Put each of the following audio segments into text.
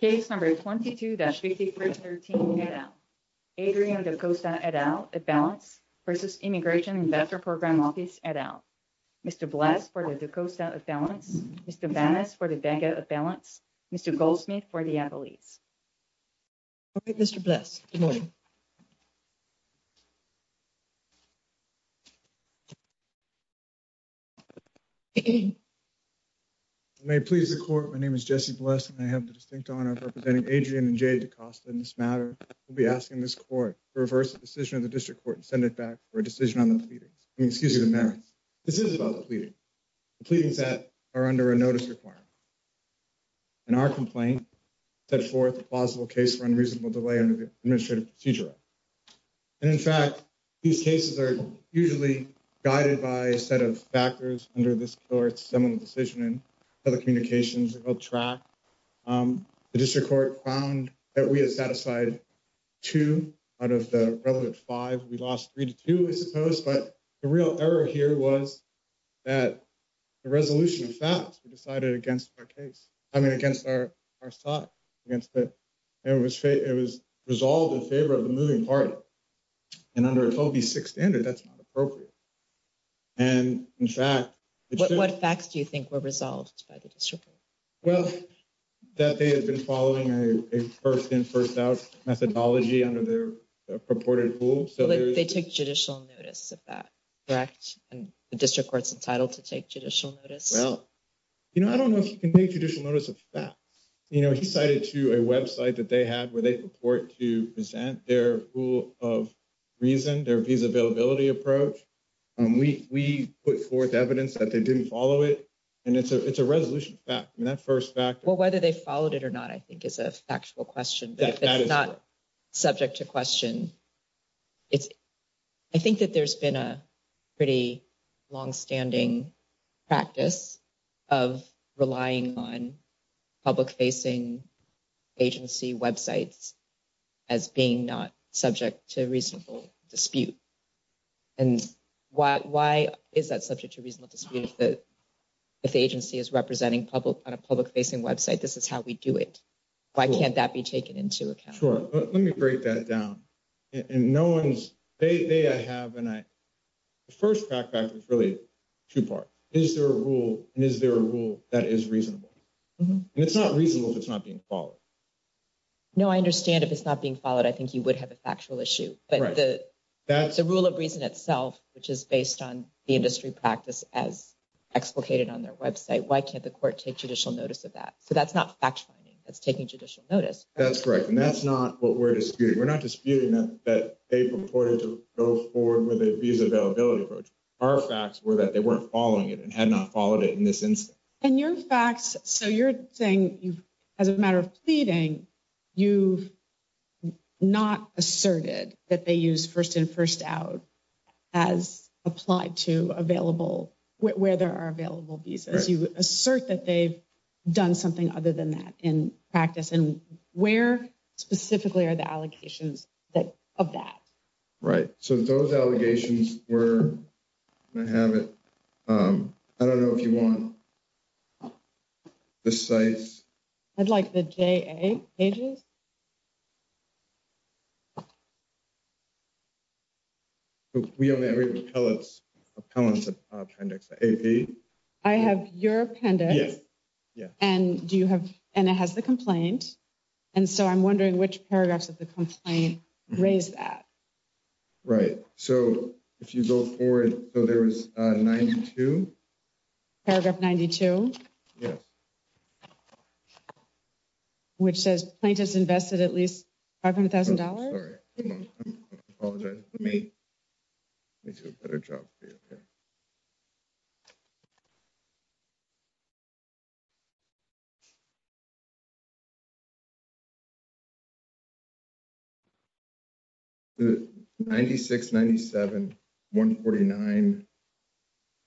Case number 22-5313, Adrian Da Costa et al. A balance versus Immigration Investor Program Office et al. Mr. Bless for the Da Costa et al. Mr. Banas for the Bagot et al. Mr. Goldsmith for the Appalachians. Okay, Mr. Bless, good morning. May it please the court, my name is Jesse Bless and I have the distinct honor of representing Adrian and Jade Da Costa in this matter. We'll be asking this court to reverse the decision of the district court and send it back for a decision on the pleadings. I mean, excuse me, the merits. This is about the pleading. The pleadings that are under a notice requirement. And our complaint set forth a plausible case for unreasonable delay under the administrative procedure. And in fact, these cases are usually guided by a set of factors under this court's decision and telecommunications track. The district court found that we had satisfied. 2 out of the relevant 5, we lost 3 to 2, I suppose, but the real error here was. That the resolution of facts, we decided against our case. I mean, against our side against that it was, it was resolved in favor of the moving party. And under Toby 6 standard, that's not appropriate. And in fact, what facts do you think were resolved by the district? Well, that they had been following a 1st in 1st out methodology under their purported pool. So they took judicial notice of that. Correct and the district court's entitled to take judicial notice. You know, I don't know if you can make judicial notice of that. You know, he cited to a website that they had where they report to present their pool of. Reason their feasibility approach, we put forth evidence that they didn't follow it. And it's a, it's a resolution back in that 1st factor whether they followed it or not, I think is a factual question, but it's not. Subject to question it's. I think that there's been a pretty long standing. Practice of relying on. Public facing agency websites. As being not subject to reasonable dispute. And why is that subject to reasonable dispute? If the agency is representing public on a public facing website, this is how we do it. Why can't that be taken into account? Sure. Let me break that down. And no one's they, I have and I. 1st, fact, fact is really 2 part. Is there a rule and is there a rule that is reasonable? And it's not reasonable if it's not being followed. No, I understand if it's not being followed. I think you would have a factual issue, but. That's a rule of reason itself, which is based on the industry practice as. Explicated on their website, why can't the court take judicial notice of that? So that's not fact finding. That's taking judicial notice. That's correct. And that's not what we're disputing. We're not disputing that that they purported to go forward with a visa availability approach. Our facts were that they weren't following it and had not followed it in this instance and your facts. So you're saying you've as a matter of pleading. You've not asserted that they use 1st and 1st out. As applied to available where there are available visas, you assert that they've. Done something other than that in practice and where specifically are the allegations that of that. Right so those allegations were. I have it, I don't know if you want. The sites. I'd like the pages. We have a repellent appendix. I have your appendix. Yeah. Yeah. And do you have and it has the complaint. And so I'm wondering which paragraphs of the complaint raise that. Right so if you go forward, so there was a 92. Paragraph 92, yes, which says plaintiffs invested at least. $500,000 me. It's a better job for you. 9697149.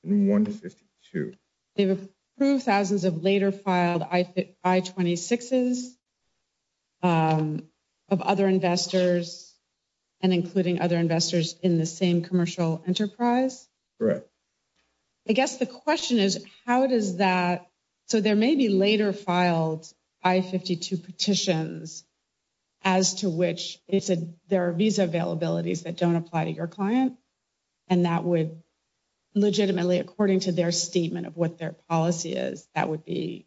And 1 to 2, they've approved thousands of later filed. I fit by 26 is. Of other investors. And including other investors in the same commercial enterprise. I guess the question is, how does that. So, there may be later filed I, 52 petitions. As to which it's a, there are these availabilities that don't apply to your client. And that would legitimately, according to their statement of what their policy is, that would be.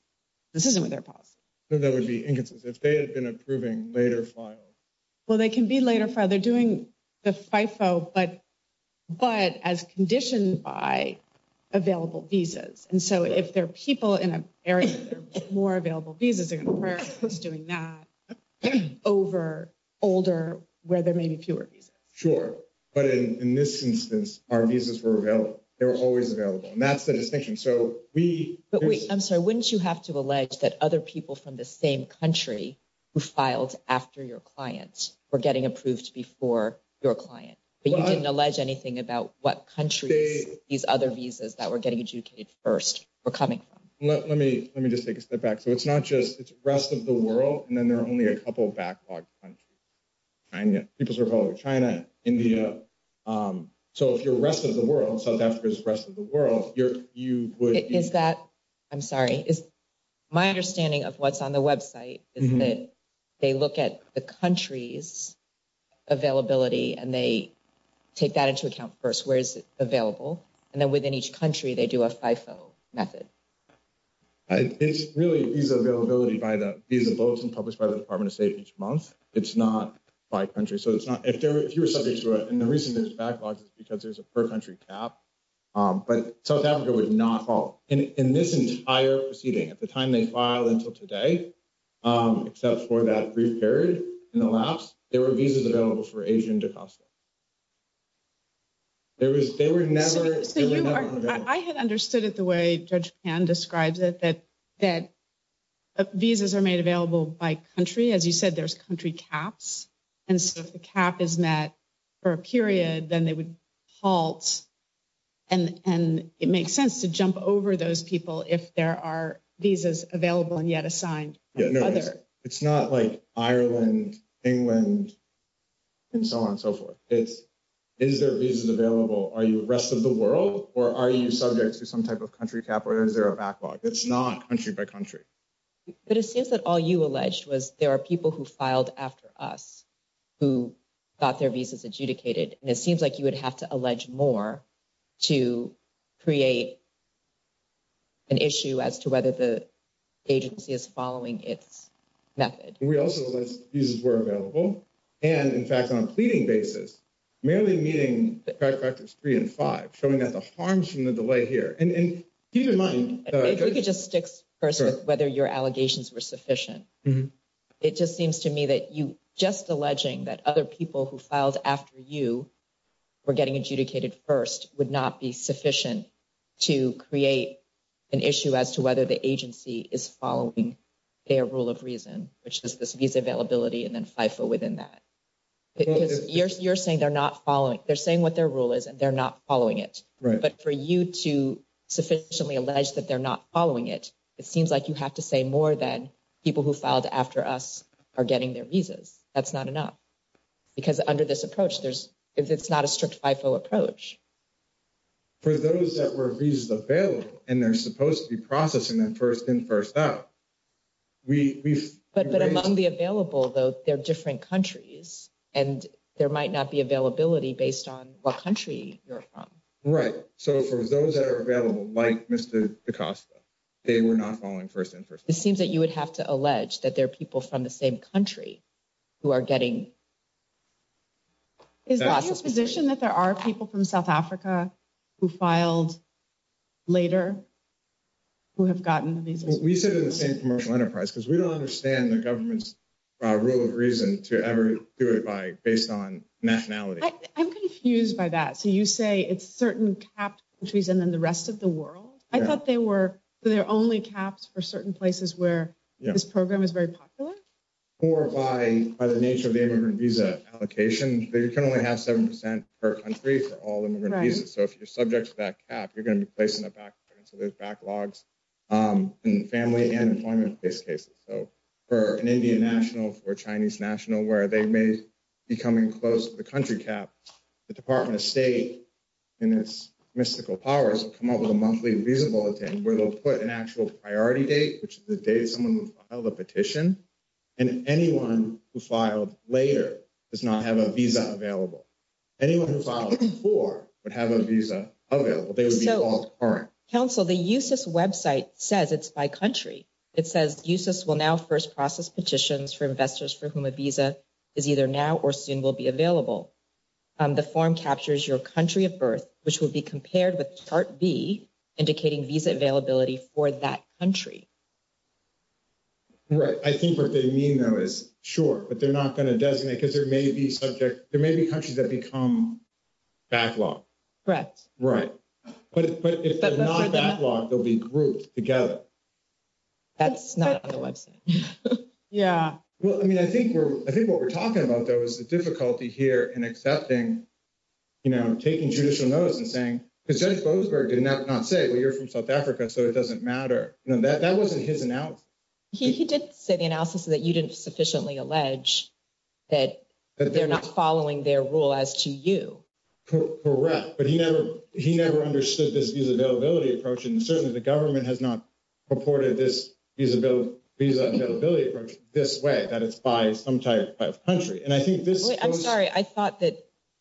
This isn't what their policy that would be inconsistent if they had been approving later file. Well, they can be later for they're doing the FIFO, but. But as conditioned by available visas, and so if there are people in a area more available, these are doing that. Over older where there may be fewer. Sure. But in this instance, our visas were available. They were always available and that's the distinction. So we, I'm sorry. Wouldn't you have to allege that other people from the same country. Who filed after your clients were getting approved before your client, but you didn't allege anything about what country these other visas that we're getting educated 1st. We're coming from, let, let me, let me just take a step back. So it's not just it's rest of the world. And then there are only a couple of backlog. People are calling China, India. So, if your rest of the world, South Africa's rest of the world, you're, you would, is that I'm sorry is. My understanding of what's on the website is that. They look at the country's availability and they. Take that into account 1st, where is it available? And then within each country, they do a method. It's really these availability by the visa boats and published by the Department of state each month. It's not by country. So it's not if you were subject to it. And the reason there's backlogs is because there's a per country cap. But South Africa would not fall in this entire proceeding at the time they file until today. Except for that brief period in the laps, there were visas available for Asian to cost. There was, they were never, I had understood it the way judge and describes it that that. Visas are made available by country. As you said, there's country caps. And so the cap is met for a period, then they would halt. And, and it makes sense to jump over those people if there are visas available and yet assigned. Yeah. No, it's not like Ireland, England. And so on and so forth, it's, is there a visa available? Are you the rest of the world? Or are you subject to some type of country cap? Or is there a backlog? It's not country by country. But it seems that all you alleged was there are people who filed after us. Who got their visas adjudicated and it seems like you would have to allege more. To create an issue as to whether the. Agency is following its method. We also were available and, in fact, on a pleading basis. Merely meeting factors 3 and 5 showing that the harms from the delay here and keep in mind, it just sticks whether your allegations were sufficient. It just seems to me that you just alleging that other people who filed after you. We're getting adjudicated 1st would not be sufficient. To create an issue as to whether the agency is following. Their rule of reason, which is this availability and then within that. You're you're saying they're not following. They're saying what their rule is and they're not following it. Right? But for you to sufficiently allege that they're not following it. It seems like you have to say more than people who filed after us are getting their visas. That's not enough. Because under this approach, there's, if it's not a strict approach. For those that were available and they're supposed to be processing that 1st in 1st out. We, but but among the available, though, they're different countries and there might not be availability based on what country you're from. Right? So, for those that are available, like, Mr. They were not following 1st interest. It seems that you would have to allege that there are people from the same country. Who are getting is that his position that there are people from South Africa. Who filed later who have gotten these? We sit in the same commercial enterprise because we don't understand the government's. Rule of reason to ever do it by based on nationality. I'm confused by that. So you say it's certain cap trees and then the rest of the world. I thought they were there only caps for certain places where this program is very popular. Or by by the nature of the immigrant visa allocation, you can only have 7% per country for all the visas. So, if you're subject to that cap, you're going to be placing it back. So there's backlogs. And family and employment case cases, so. For an Indian national for Chinese national, where they may. Becoming close to the country cap, the Department of state. And it's mystical powers come up with a monthly visa bulletin where they'll put an actual priority date, which is the day someone held a petition. And anyone who filed later does not have a visa available. Anyone who filed for would have a visa available. They would be all right. Council the website says it's by country. It says uses will now 1st process petitions for investors for whom a visa is either now or soon will be available. The form captures your country of birth, which will be compared with chart B. Indicating visa availability for that country. Right? I think what they mean though is sure, but they're not going to designate because there may be subject. There may be countries that become. Backlog correct. Right. But, but if they're not backlog, they'll be grouped together. That's not the website. Yeah. Well, I mean, I think we're, I think what we're talking about, though, is the difficulty here and accepting. You know, taking judicial notice and saying, because I suppose, or did not not say, well, you're from South Africa. So it doesn't matter. No, that that wasn't his analysis. He did say the analysis that you didn't sufficiently allege. That they're not following their rule as to you. Correct but he never he never understood this visibility approach and certainly the government has not. Reported this visibility this way that it's by some type of country and I think this I'm sorry. I thought that.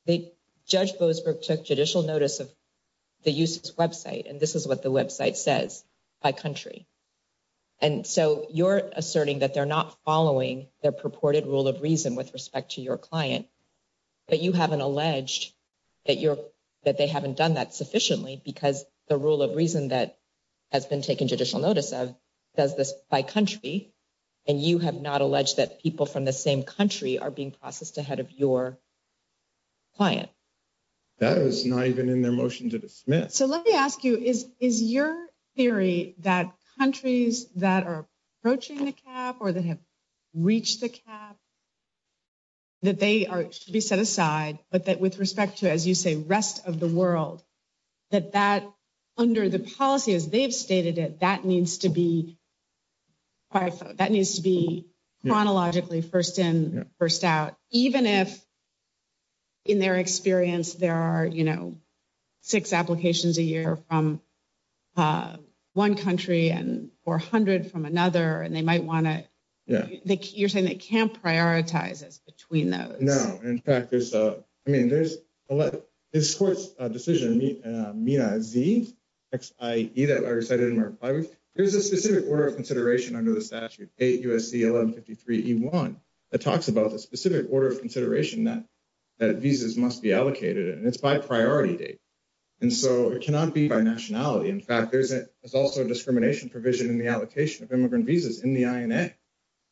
The judge took judicial notice of the website and this is what the website says. By country, and so you're asserting that they're not following their purported rule of reason with respect to your client. But you haven't alleged that you're that they haven't done that sufficiently because the rule of reason that. Has been taken judicial notice of does this by country. And you have not alleged that people from the same country are being processed ahead of your. Client that is not even in their motion to dismiss. So, let me ask you is, is your theory that countries that are approaching the cap or that have. Reach the cap that they are to be set aside, but that with respect to, as you say, rest of the world. That that under the policy, as they've stated it, that needs to be. That needs to be chronologically 1st in 1st out, even if. In their experience, there are, you know. 6 applications a year from 1 country and 400 from another and they might want to. Yeah, you're saying they can't prioritize us between those. No, in fact, there's a, I mean, there's a, it's a decision. X, either I recited, there's a specific order of consideration under the statute 8, USC, 1153 E1. That talks about the specific order of consideration that that visas must be allocated and it's by priority date. And so it cannot be by nationality. In fact, there's a, there's also a discrimination provision in the allocation of immigrant visas in the.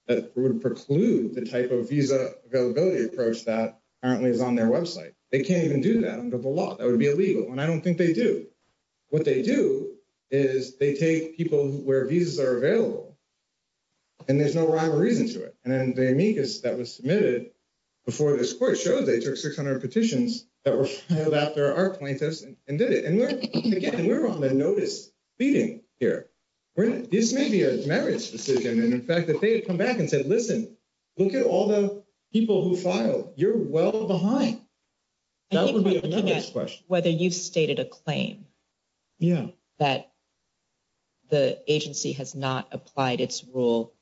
That would preclude the type of visa availability approach that currently is on their website. They can't even do that under the law. That would be illegal. And I don't think they do. What they do is they take people where visas are available. And there's no rhyme or reason to it. And then the amicus that was submitted. Before this court showed, they took 600 petitions that were filed after our plaintiffs and did it. And again, we're on the notice meeting here. This may be a marriage decision and in fact, if they had come back and said, listen. Look at all the people who filed you're well behind. That would be a question whether you've stated a claim. Yeah, that the agency has not applied its rule.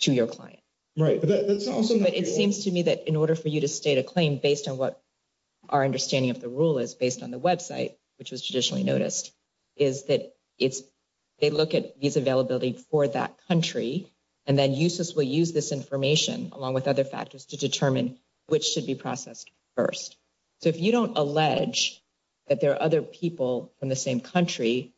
To your client, right? That's awesome. But it seems to me that in order for you to state a claim based on what. Our understanding of the rule is based on the website, which was traditionally noticed. Is that it's they look at these availability for that country. And then uses will use this information along with other factors to determine which should be processed 1st. So, if you don't allege that there are other people in the same country.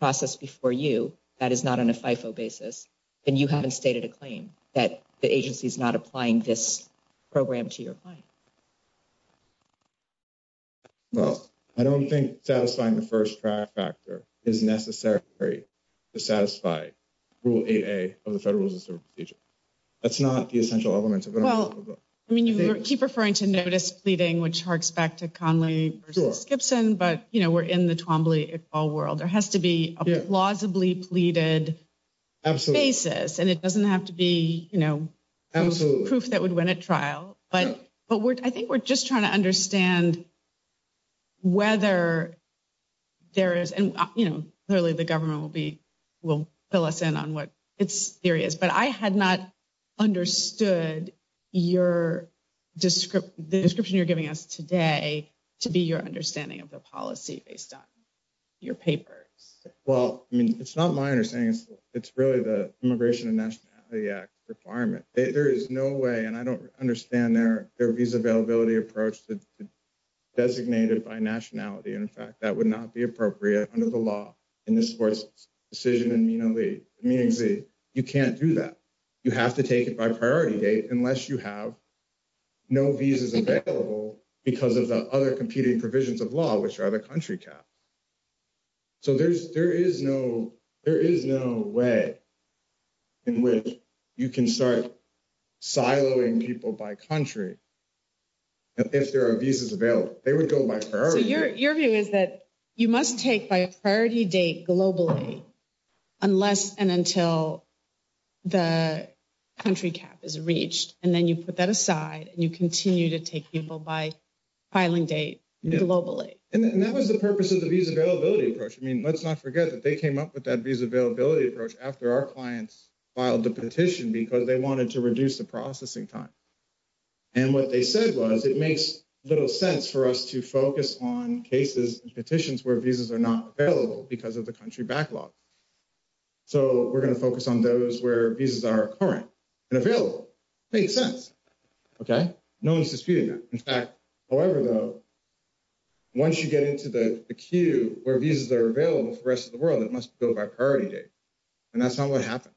Process before you that is not on a FIFO basis. And you haven't stated a claim that the agency is not applying this. Program to your client. Well, I don't think satisfying the 1st track factor is necessary. To satisfy rule 8 of the federal system. That's not the essential elements. Well, I mean, you keep referring to notice pleading, which harks back to Conley Skipson, but, you know, we're in the Twombly all world. There has to be a plausibly pleaded. Absolutely basis, and it doesn't have to be, you know. Absolutely proof that would win a trial, but I think we're just trying to understand. Whether there is, you know, clearly the government will be. Will fill us in on what it's serious, but I had not. Understood your. Descript the description you're giving us today to be your understanding of the policy based on. Your papers well, I mean, it's not my understanding. It's really the immigration and nationality act requirement. There is no way and I don't understand their, their visa availability approach to. Designated by nationality and in fact, that would not be appropriate under the law. In this decision, and, you know, the, you can't do that. You have to take it by priority date unless you have no visas available because of the other competing provisions of law, which are the country cap. So, there's there is no, there is no way. In which you can start siloing people by country. If there are visas available, they would go by your view is that you must take by a priority date globally. Unless and until the. Country cap is reached, and then you put that aside and you continue to take people by. Filing date globally, and that was the purpose of the visa availability approach. I mean, let's not forget that they came up with that visa availability approach after our clients filed the petition because they wanted to reduce the processing time. And what they said was, it makes little sense for us to focus on cases and petitions where visas are not available because of the country backlog. So, we're going to focus on those where visas are current. And available make sense. Okay. No, it's disputed. In fact, however, though. Once you get into the queue where visas are available for the rest of the world, it must go by priority date. And that's not what happened.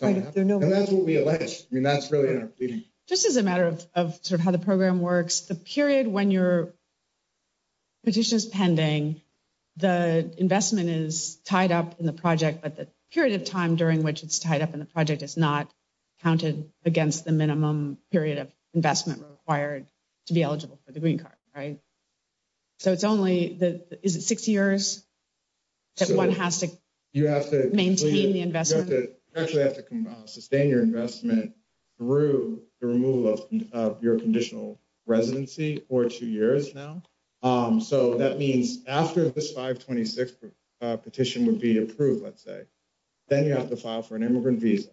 And that's what we elect. I mean, that's really just as a matter of sort of how the program works the period when you're. Petitions pending the investment is tied up in the project, but the period of time during which it's tied up in the project is not. Counted against the minimum period of investment required. To be eligible for the green card, right? So it's only the is it 6 years. That 1 has to you have to maintain the investment actually have to sustain your investment. Through the removal of your conditional residency for 2 years now. Um, so that means after this 526 petition would be approved, let's say. Then you have to file for an immigrant visa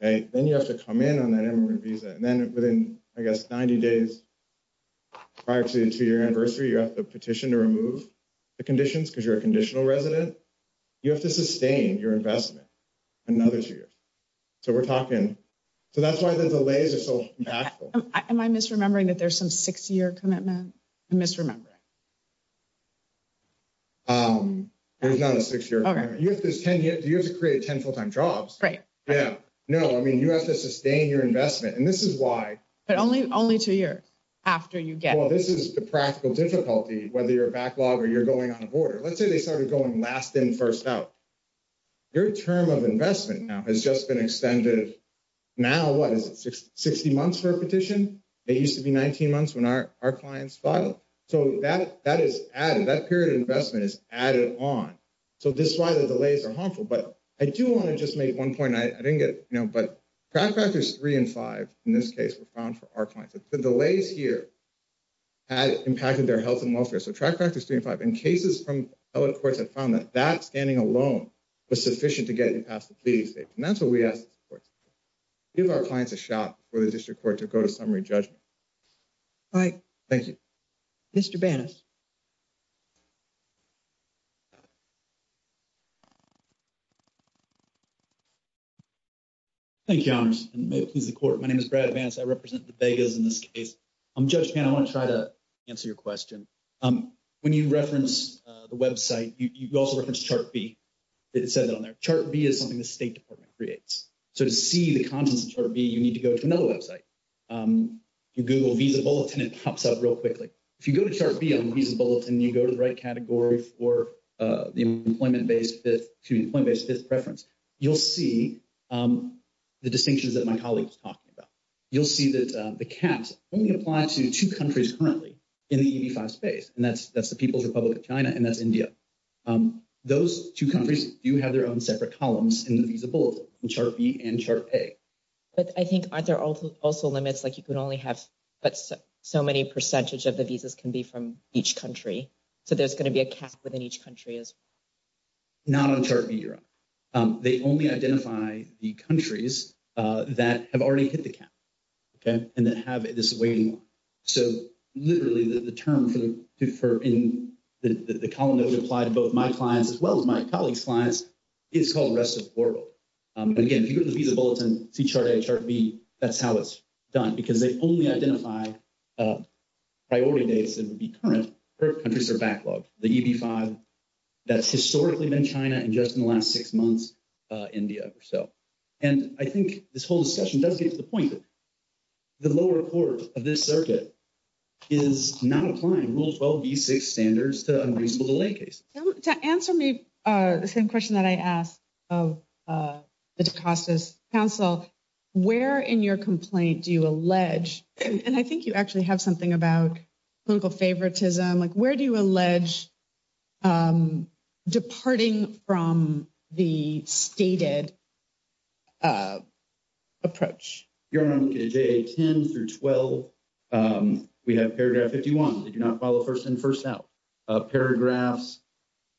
and then you have to come in on that visa and then within, I guess, 90 days. Prior to your anniversary, you have the petition to remove. The conditions, because you're a conditional resident, you have to sustain your investment. Another 2 years, so we're talking, so that's why the delays are so impactful. Am I misremembering that? There's some 6 year commitment. Misremember there's not a 6 year. Okay. You have to create 10 full time jobs. Right? Yeah. No, I mean, you have to sustain your investment and this is why. But only only 2 years after you get this is the practical difficulty, whether you're a backlog, or you're going on a border, let's say they started going last in 1st out. Your term of investment now has just been extended. Now, what is it? 60 months for a petition? It used to be 19 months when our, our clients filed. So that that is added that period of investment is added on. So, this is why the delays are harmful, but I do want to just make 1 point. I didn't get, you know, but factors 3 and 5 in this case, we're found for our clients. The delays here. Had impacted their health and welfare. So, track factors 3 and 5 in cases from courts have found that that standing alone. Was sufficient to get past the pleading states and that's what we ask. Give our clients a shot for the district court to go to summary judgment. All right, thank you. Mr. Bannis. Thank you. May it please the court. My name is Brad advance. I represent the Vegas in this case. I'm just, I want to try to answer your question when you reference the website. You also referenced chart B. It said that on their chart B is something the state department creates. So, to see the contents of chart B, you need to go to another website. You Google visa bulletin, it pops up real quickly. If you go to chart B on the bulletin, you go to the right category for the employment base that to employment based preference. You'll see the distinctions that my colleague was talking about. You'll see that the caps only apply to 2 countries currently. In the space, and that's that's the People's Republic of China and that's India. Those 2 countries do have their own separate columns in the visa bulletin, which are B and chart A. But I think there are also limits, like, you can only have, but so many percentage of the visas can be from each country. So there's going to be a cap within each country is. Not on chart B, you're right. They only identify the countries that have already hit the cap. Okay, and that have this waiting. So literally the term for the for in the column that would apply to both my clients as well as my colleagues clients. It's called the rest of the world. And again, if you go to the visa bulletin, see chart A, chart B, that's how it's done because they only identify. Priority dates, it would be current countries are backlogged the E. B. 5. That's historically been China and just in the last 6 months, India or so. And I think this whole discussion does get to the point that the lower court of this circuit. Is not applying rules, well, be 6 standards to unreasonable delay case to answer me the same question that I asked of the cost us counsel. Where in your complaint do you allege and I think you actually have something about. Local favoritism, like, where do you allege departing from the stated. Approach your 10 through 12. We have paragraph 51, they do not follow 1st and 1st out. Paragraphs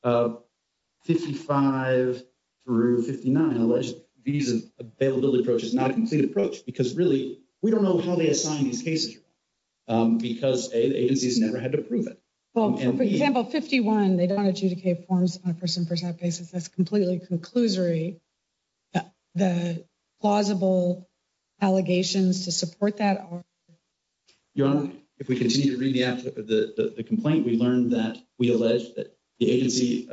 55. Through 59, these availability approach is not a complete approach because really we don't know how they assign these cases. Because agencies never had to prove it. Well, for example, 51, they don't adjudicate forms on a person for that basis. That's completely conclusory. The plausible allegations to support that. If we continue to read the app, the complaint, we learned that we allege that the agency.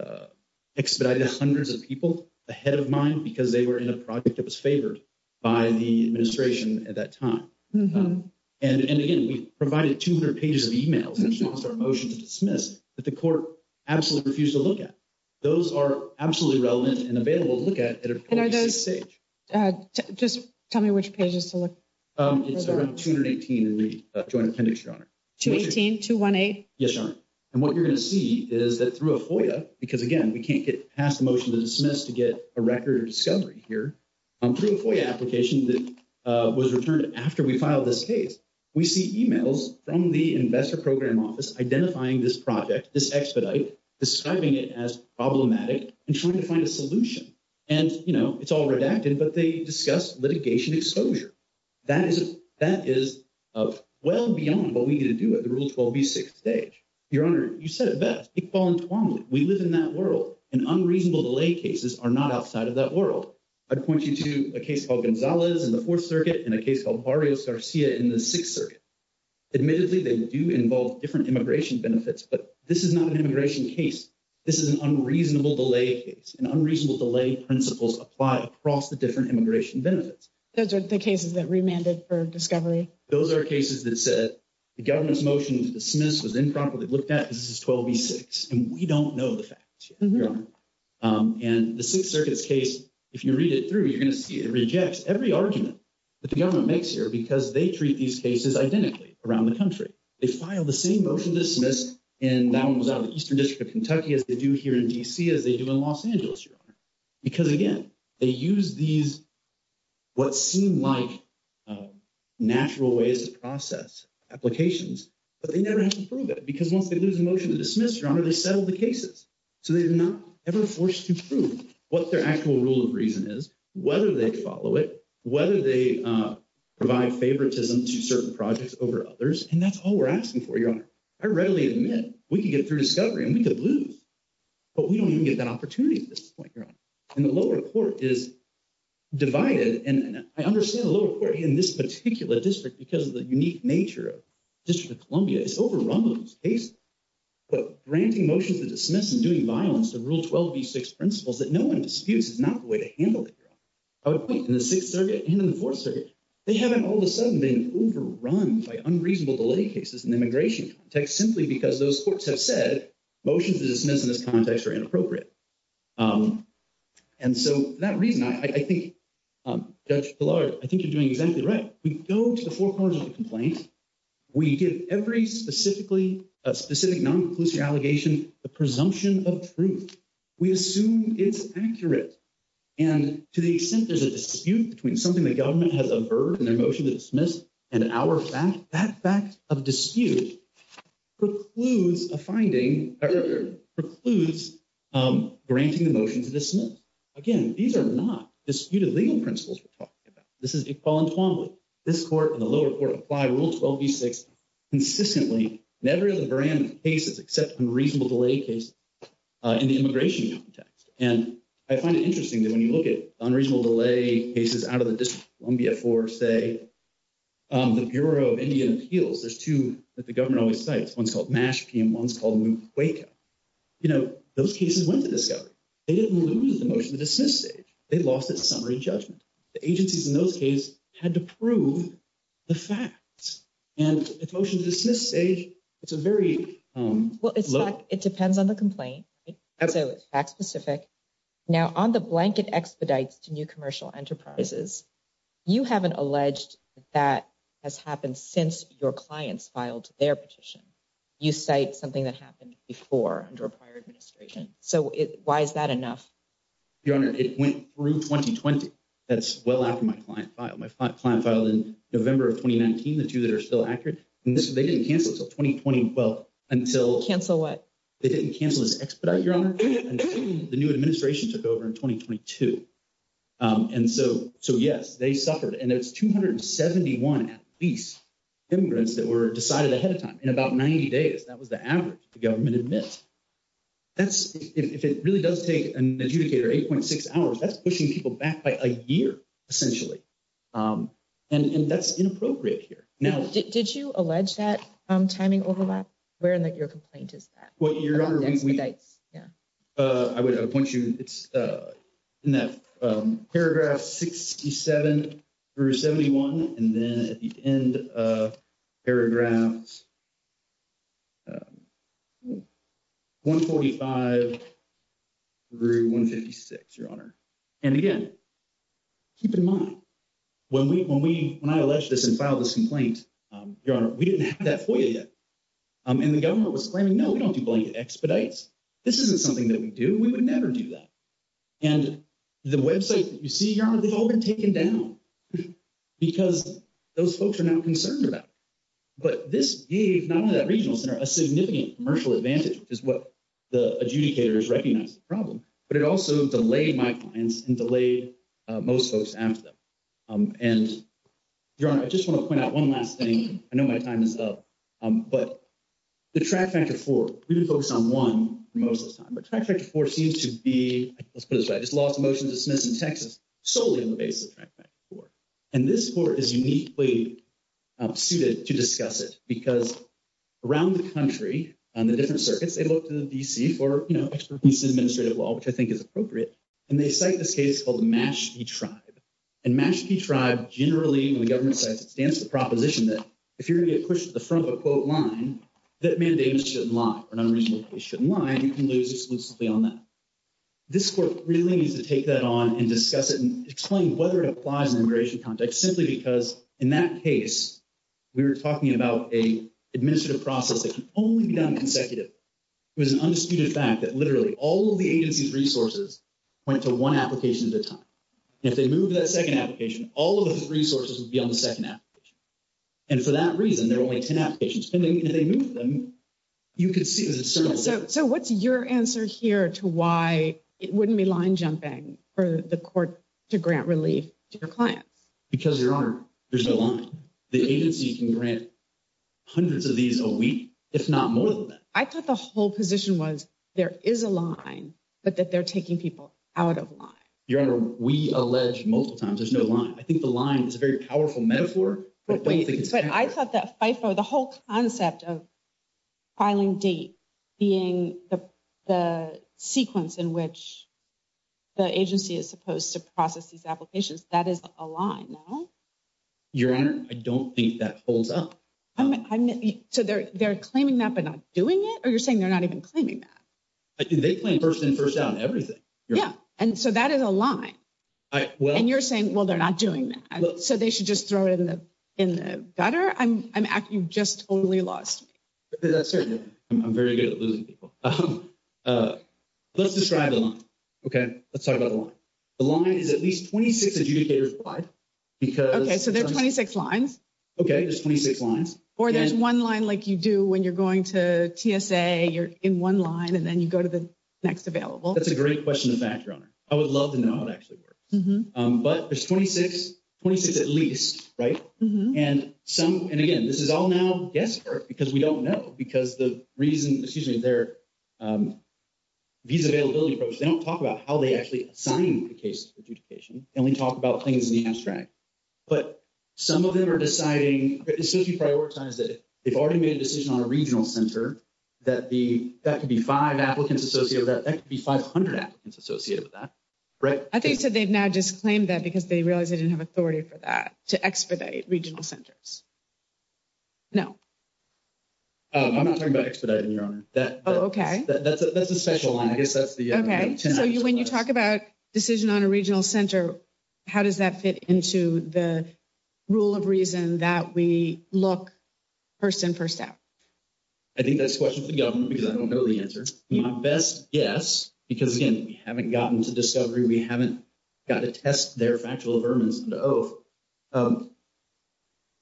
Expedited hundreds of people ahead of mine, because they were in a project that was favored. By the administration at that time and again, we provided 200 pages of emails and our motion to dismiss that the court absolutely refused to look at. Those are absolutely relevant and available to look at and are those just tell me which pages to look. Um, it's around 218 in the joint appendix, your honor to 18 to 1. 8. Yes, sir. And what you're going to see is that through a FOIA, because again, we can't get past the motion to dismiss to get a record of discovery here. I'm through a FOIA application that was returned after we filed this case. We see emails from the investor program office, identifying this project, this expedite, describing it as problematic and trying to find a solution. And, you know, it's all redacted, but they discuss litigation exposure. That is that is well beyond what we need to do at the rule 12, be 6 stage. Your honor, you said that we live in that world and unreasonable delay cases are not outside of that world. I'd point you to a case called Gonzalez and the 4th circuit and a case called Mario Garcia in the 6th circuit. Admittedly, they do involve different immigration benefits, but this is not an immigration case. This is an unreasonable delay case and unreasonable delay principles apply across the different immigration benefits. Those are the cases that remanded for discovery. Those are cases that said the government's motion to dismiss was improperly looked at. This is 12 be 6 and we don't know the facts. And the 6th circuits case, if you read it through, you're going to see it rejects every argument that the government makes here because they treat these cases identically around the country. They file the same motion dismissed and that was out of the eastern district of Kentucky as they do here in D. C. as they do in Los Angeles, your honor, because again, they use these. What seemed like natural ways to process applications, but they never have to prove it because once they lose a motion to dismiss your honor, they settled the cases. So, they did not ever forced to prove what their actual rule of reason is, whether they follow it, whether they provide favoritism to certain projects over others. And that's all we're asking for. Your honor. I readily admit we can get through discovery and we could lose, but we don't even get that opportunity at this point. Your honor, and the lower court is divided and I understand the lower court in this particular district because of the unique nature of District of Columbia is overrun with these cases, but granting motions to dismiss and doing violence to rule 12 be 6 principles that no one disputes is not the way to handle it. I would point in the 6th circuit and in the 4th circuit, they haven't all of a sudden been overrun by unreasonable delay cases in the immigration text simply because those courts have said motions to dismiss in this context are inappropriate. And so that reason, I think, I think you're doing exactly right. We go to the 4 parts of the complaint. We give every specifically a specific non-conclusive allegation, the presumption of truth. We assume it's accurate. And to the extent there's a dispute between something the government has a burden emotion to dismiss and our fact that fact of dispute precludes a finding precludes granting the motion to dismiss. Again, these are not disputed legal principles. We're talking about. This is equality. This court and the lower court apply rule 12 be 6 consistently never the brand cases, except unreasonable delay case in the immigration context. And I find it interesting that when you look at unreasonable delay cases out of the Columbia for, say, the Bureau of Indian appeals, there's 2 that the government always sites. 1's called mash and 1's called wake up. You know, those cases went to discover they didn't lose the motion to dismiss it. They lost its summary judgment. The agencies in those case had to prove. The fact and the motion to dismiss say, it's a very well, it's like, it depends on the complaint. That's a fact specific now on the blanket expedites to new commercial enterprises. You haven't alleged that has happened since your clients filed their petition. You say something that happened before under a prior administration. So, why is that enough? Your honor, it went through 2020. that's well after my client filed my client filed in November of 2019. the 2 that are still accurate and this, they didn't cancel until 2020. well, until cancel what they didn't cancel this expedite your honor. The new administration took over in 2022 and so so, yes, they suffered and it's 271 at least immigrants that were decided ahead of time in about 90 days. That was the average the government admits. That's if it really does take an adjudicator 8.6 hours, that's pushing people back by a year. Essentially and that's inappropriate here. Now, did you allege that timing overlap? Where in your complaint is that? Your honor, I would point you, it's in that paragraph 67 through 71 and then at the end paragraphs 145 through 156, your honor. And again, keep in mind when we, when we, when I allege this and file this complaint, your honor, we didn't have that for you yet and the government was claiming, no, we don't do blankets. We don't do things like expedites. This isn't something that we do. We would never do that. And the website that you see, your honor, we've all been taken down because those folks are not concerned about, but this gave not only that regional center a significant commercial advantage is what the adjudicators recognize the problem, but it also delayed my clients and delayed most folks after them. Um, and your honor, I just want to point out 1 last thing. I know my time is up, but. The traffic for folks on 1 most of the time, but 4 seems to be, let's put it, I just lost a motion to dismiss in Texas. Solely on the basis of for, and this board is uniquely. I'm suited to discuss it because around the country on the different circuits, they look to the DC for, you know, administrative law, which I think is appropriate. And they cite this case called the match the tribe and match the tribe. Generally, when the government says it stands to proposition that if you're going to get pushed to the front of a quote line, that mandate shouldn't lie or unreasonable. They shouldn't lie. You can lose exclusively on that. This really needs to take that on and discuss it and explain whether it applies in immigration context, simply because in that case. We were talking about a administrative process that can only be done consecutive. It was an undisputed fact that literally all of the agency's resources went to 1 application at a time. If they move that 2nd application, all of the resources would be on the 2nd application. And for that reason, there are only 10 applications and they move them. You could see, so what's your answer here to why it wouldn't be line jumping for the court to grant relief to your clients? Because your honor. There's no line the agency can grant hundreds of these a week. If not more than that, I thought the whole position was there is a line, but that they're taking people out of line. Your honor. We allege multiple times. There's no line. I think the line is a very powerful metaphor, but I thought that FIFO, the whole concept of. Filing date being the, the sequence in which. The agency is supposed to process these applications. That is a line. Your honor, I don't think that holds up. So, they're, they're claiming that, but not doing it or you're saying they're not even claiming that. They claim 1st in 1st out everything. Yeah. And so that is a line. Well, and you're saying, well, they're not doing that. So they should just throw it in the. In the gutter, I'm, I'm, you just only lost me. I'm very good at losing people. Let's describe the line. Okay. Let's talk about the line. The line is at least 26 adjudicators. Because, okay, so there are 26 lines. Okay. There's 26 lines or there's 1 line like you do when you're going to TSA, you're in 1 line and then you go to the. Next available. That's a great question. In fact, your honor, I would love to know how it actually works, but there's 2626 at least right? And some and again, this is all now guesswork because we don't know because the reason excuse me there. These availability, they don't talk about how they actually sign the case adjudication and we talk about things in the abstract. But some of them are deciding, especially prioritize that they've already made a decision on a regional center. That the, that could be 5 applicants associated that that could be 500. It's associated with that. Right I think so they've now just claimed that because they realize they didn't have authority for that to expedite regional centers. No, I'm not talking about expediting your honor that. Oh, okay. That's a that's a special line. I guess that's the. Okay. So, when you talk about decision on a regional center. How does that fit into the rule of reason that we look. 1st, and 1st out, I think that's a question for the government because I don't know the answer. My best. Yes, because again, we haven't gotten to discovery. We haven't. Got to test their factual vermin and.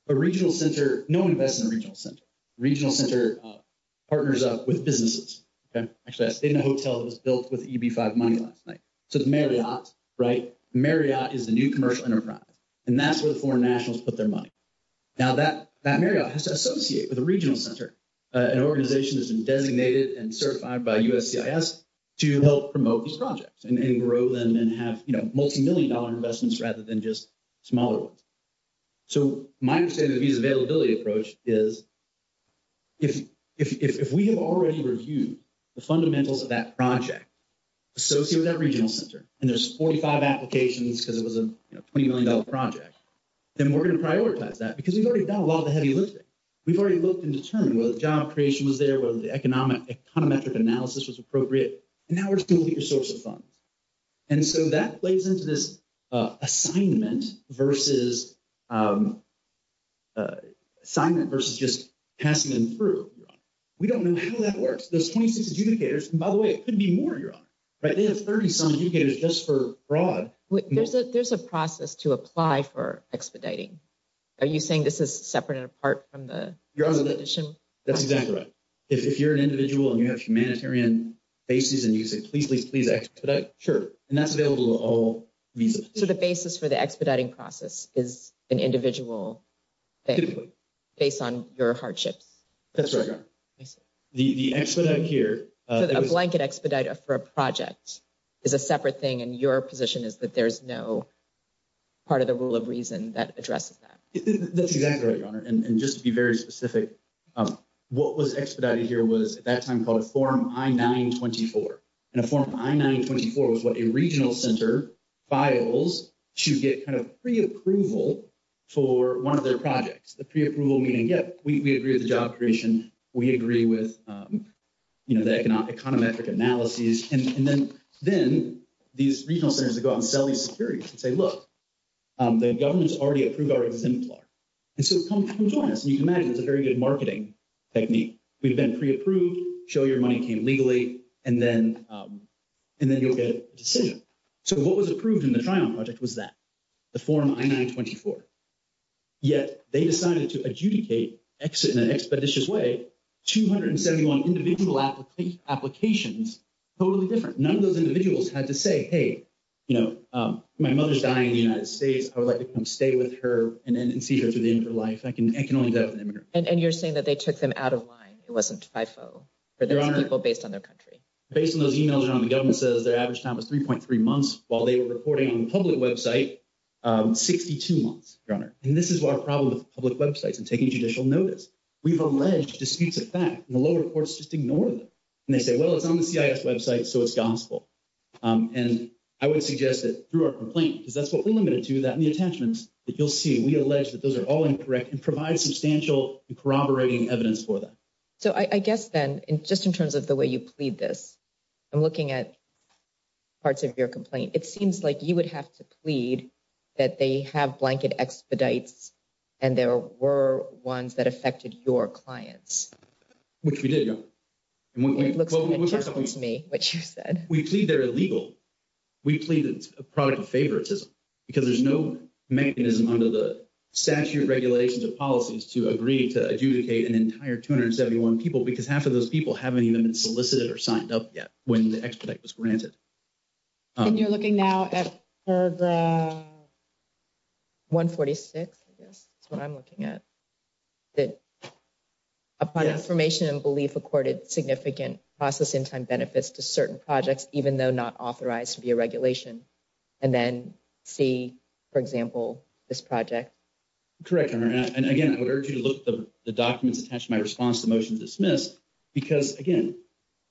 A regional center, no investment regional center regional center. Partners up with businesses. Okay. Actually, I stayed in a hotel that was built with money last night. So the Marriott right? Marriott is the new commercial enterprise and that's where the foreign nationals put their money. Now, that that has to associate with the regional center. An organization has been designated and certified by us to help promote these projects and grow them and have multimillion dollar investments rather than just. Smaller, so my understanding of these availability approach is. If, if, if we have already reviewed the fundamentals of that project. So, that regional center, and there's 45 applications because it was a $20M project. Then we're going to prioritize that because we've already done a lot of the heavy lifting. We've already looked and determined whether the job creation was there, whether the economic econometric analysis was appropriate. And now we're going to get your source of funds. And so that plays into this assignment versus. Assignment versus just passing them through. We don't know how that works. There's 26 adjudicators and by the way, it could be more. You're right. They have 30 some adjudicators just for broad. There's a process to apply for expediting. Are you saying this is separate and apart from the. That's exactly right. If you're an individual and you have humanitarian. Basis and you say, please, please, please. Sure. And that's available to all. So, the basis for the expediting process is an individual. Based on your hardships, that's right. The, the expert out here, a blanket expedite for a project. Is a separate thing and your position is that there's no part of the rule of reason that addresses. That's exactly right. And just to be very specific, what was expedited here was at that time called a form. I 924 and a form. I 924 was what a regional center. Files to get kind of preapproval. For 1 of their projects, the preapproval meeting. Yep. We agree with the job creation. We agree with. You know, the economic econometric analysis, and then then these regional centers to go out and sell these security and say, look. The government's already approved our exemplar and so come join us and you can imagine it's a very good marketing. Technique we've been preapproved show your money came legally and then. And then you'll get a decision. So, what was approved in the trial project was that. The form I 924, yet they decided to adjudicate exit in an expeditious way. 271 individual applications. Totally different. None of those individuals had to say, hey, you know, my mother's dying in the United States. I would like to come stay with her and then see her to the end of her life. I can I can only do that. And you're saying that they took them out of line. It wasn't. People based on their country, based on those emails around the government says their average time was 3.3 months while they were reporting on public website. 62 months runner and this is our problem with public websites and taking judicial notice. We've alleged disputes of fact, and the lower courts just ignore them and they say, well, it's on the website. So it's gospel. And I would suggest that through our complaint, because that's what we limited to that in the attachments that you'll see, we allege that those are all incorrect and provide substantial corroborating evidence for that. So, I guess then, just in terms of the way you plead this. I'm looking at parts of your complaint. It seems like you would have to plead. That they have blanket expedites, and there were ones that affected your clients, which we did. And when it looks to me, which you said, we plead they're illegal. We plead it's a product favoritism because there's no mechanism under the statute regulations of policies to agree to adjudicate an entire 271 people because half of those people haven't even been solicited or signed up yet when the expedite was granted. And you're looking now at the. 146, I guess that's what I'm looking at. That upon information and belief, accorded significant process in time benefits to certain projects, even though not authorized to be a regulation. And then see, for example, this project. Correct and again, I would urge you to look at the documents attached to my response to motion dismissed. Because again,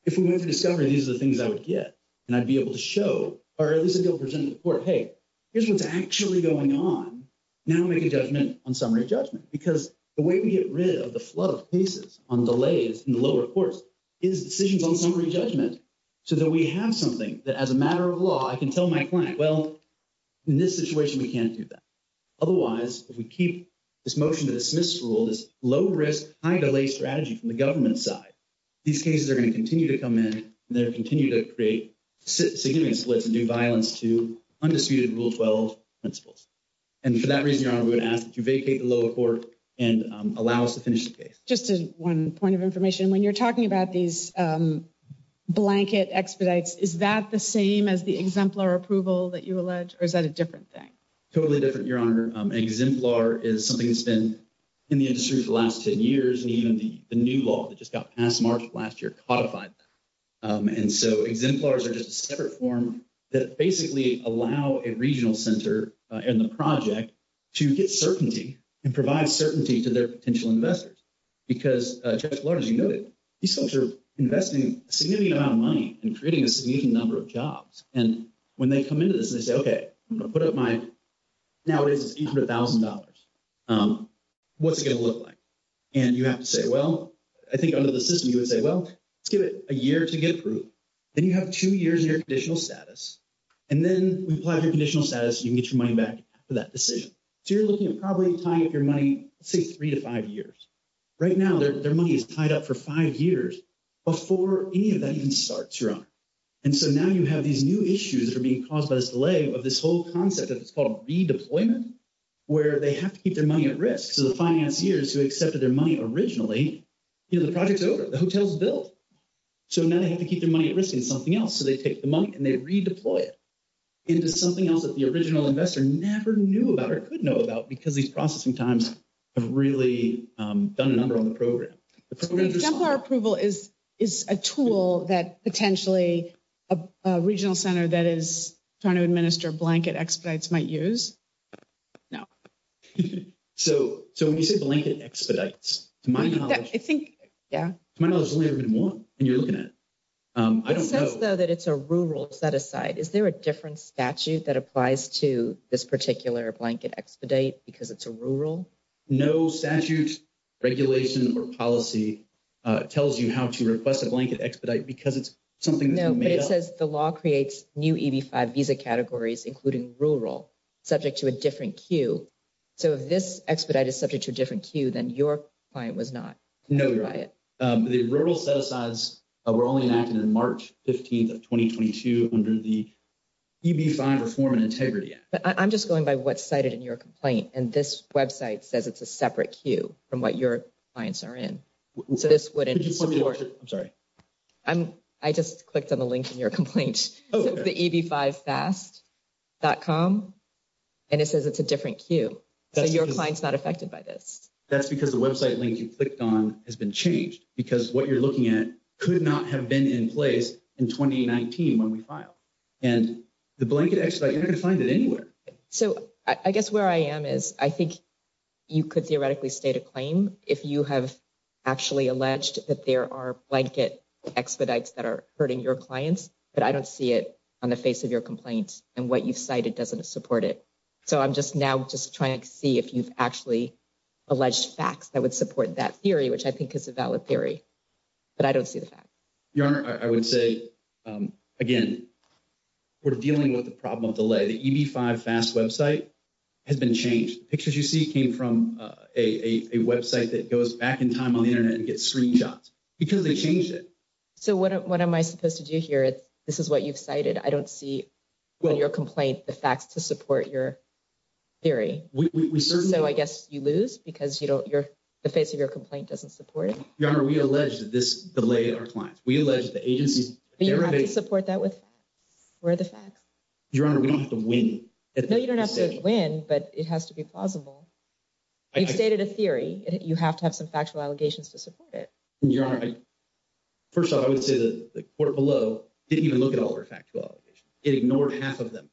if we went to discovery, these are the things I would get and I'd be able to show or at least a bill presented to the court. Hey, here's what's actually going on. Now, make a judgment on summary judgment, because the way we get rid of the flood of pieces on delays in the lower course. Is decisions on summary judgment so that we have something that as a matter of law, I can tell my client well. In this situation, we can't do that. Otherwise, if we keep this motion to dismiss rule, this low risk, high delay strategy from the government side. These cases are going to continue to come in there, continue to create significant splits and do violence to undisputed rule 12 principles. And for that reason, I would ask that you vacate the lower court and allow us to finish the case just to 1 point of information when you're talking about these. Blanket expedites is that the same as the exemplar approval that you allege or is that a different thing? Totally different your honor exemplar is something that's been. In the industry for the last 10 years, and even the new law that just got past March last year codified. And so exemplars are just a separate form that basically allow a regional center and the project. To get certainty and provide certainty to their potential investors. Because as you noted, these folks are investing a significant amount of money and creating a significant number of jobs. And when they come into this, they say, okay, I'm going to put up my. Now, it is $100,000. What's it going to look like? And you have to say, well, I think under the system, you would say, well, let's give it a year to get approved. Then you have 2 years in your additional status, and then we plan your conditional status. You can get your money back for that decision. So you're looking at probably tying up your money, say, 3 to 5 years. Right now, their money is tied up for 5 years. Before any of that even starts your honor and so now you have these new issues that are being caused by this delay of this whole concept that it's called redeployment. Where they have to keep their money at risk. So the finance years who accepted their money originally. You know, the project over the hotels built, so now they have to keep their money at risk and something else. So they take the money and they redeploy it. Into something else that the original investor never knew about or could know about because he's processing times. I've really done a number on the program approval is. Is a tool that potentially a regional center that is trying to administer blanket expedites might use. No, so so when you say blanket expedites to my knowledge, I think, yeah, my mother's only ever been 1 and you're looking at. I don't know that it's a rural set aside. Is there a different statute that applies to this particular blanket expedite? Because it's a rural. No statute regulation or policy tells you how to request a blanket expedite because it's. Something that says the law creates new visa categories, including rural subject to a different queue. So, if this expedite is subject to a different queue, then your client was not. No, the rural set asides were only enacted in March 15th of 2022 under the. You'd be fine reform and integrity, but I'm just going by what cited in your complaint and this website says it's a separate queue from what your clients are in. So, this wouldn't support. I'm sorry. I'm I just clicked on the link in your complaint. Oh, the fast. That calm and it says it's a different queue. So, your client's not affected by this. That's because the website link you clicked on has been changed because what you're looking at could not have been in place in 2019 when we file. And the blanket expedite, you're going to find it anywhere. So, I guess where I am is, I think. You could theoretically state a claim if you have actually alleged that there are blanket expedites that are hurting your clients, but I don't see it on the face of your complaints and what you've cited doesn't support it. So, I'm just now just trying to see if you've actually alleged facts that would support that theory, which I think is a valid theory, but I don't see the fact your honor. I would say again. We're dealing with the problem of delay the E. B. 5 fast website has been changed pictures. You see, came from a website that goes back in time on the Internet and get screenshots because they change it. So, what am I supposed to do here? This is what you've cited. I don't see when your complaint, the facts to support your theory. So, I guess you lose because, you know, you're the face of your complaint doesn't support it. Your honor, we don't have to win. No, you don't have to win, but it has to be plausible. You've stated a theory, you have to have some factual allegations to support it. Your honor, first of all, I would say that the court below didn't even look at all our factual. It ignored half of them.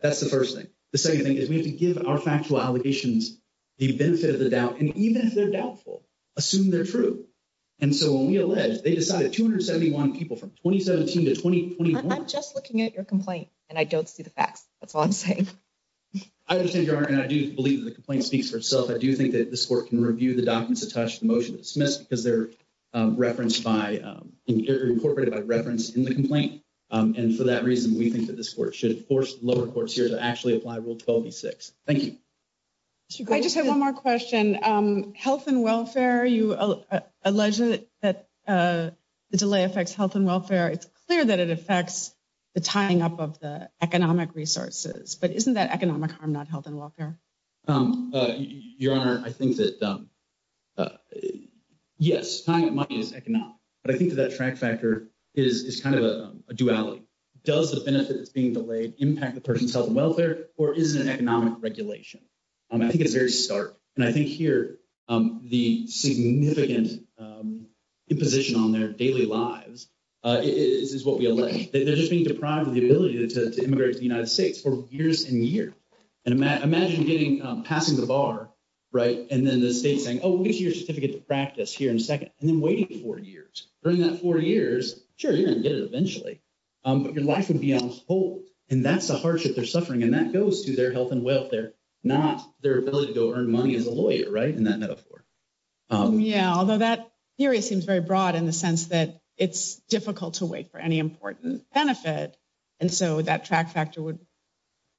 That's the 1st thing the 2nd thing is we have to give our factual allegations the benefit of the doubt. And even if they're doubtful, assume they're true. And so when we alleged they decided 271 people from 2017 to 2021, I'm just looking at your complaint and I don't see the facts. That's all I'm saying. I understand your honor and I do believe that the complaint speaks for itself. I do think that this court can review the documents attached to the motion dismissed because they're referenced by incorporated by reference in the complaint. And for that reason, we think that this court should force lower courts here to actually apply rule 1206. Thank you. I just have 1 more question health and welfare. You alleged that the delay affects health and welfare. It's clear that it affects the tying up of the economic resources, but isn't that economic harm? Not health and welfare. Your honor, I think that. Yes, time is economic, but I think that that track factor is kind of a duality. Does the benefit that's being delayed impact the person's health and welfare, or is it an economic regulation? I think it's very stark and I think here the significant imposition on their daily lives is what we elect. They're just being deprived of the ability to immigrate to the United States for years and year and imagine getting passing the bar. Right? And then the state saying, oh, here's your certificate to practice here in a 2nd and then waiting for years during that 4 years. Sure. You're going to get it eventually, but your life would be on hold and that's the hardship they're suffering and that goes to their health and welfare, not their ability to earn money as a lawyer. Right? And that metaphor. Yeah, although that theory seems very broad in the sense that it's difficult to wait for any important benefit. And so that track factor would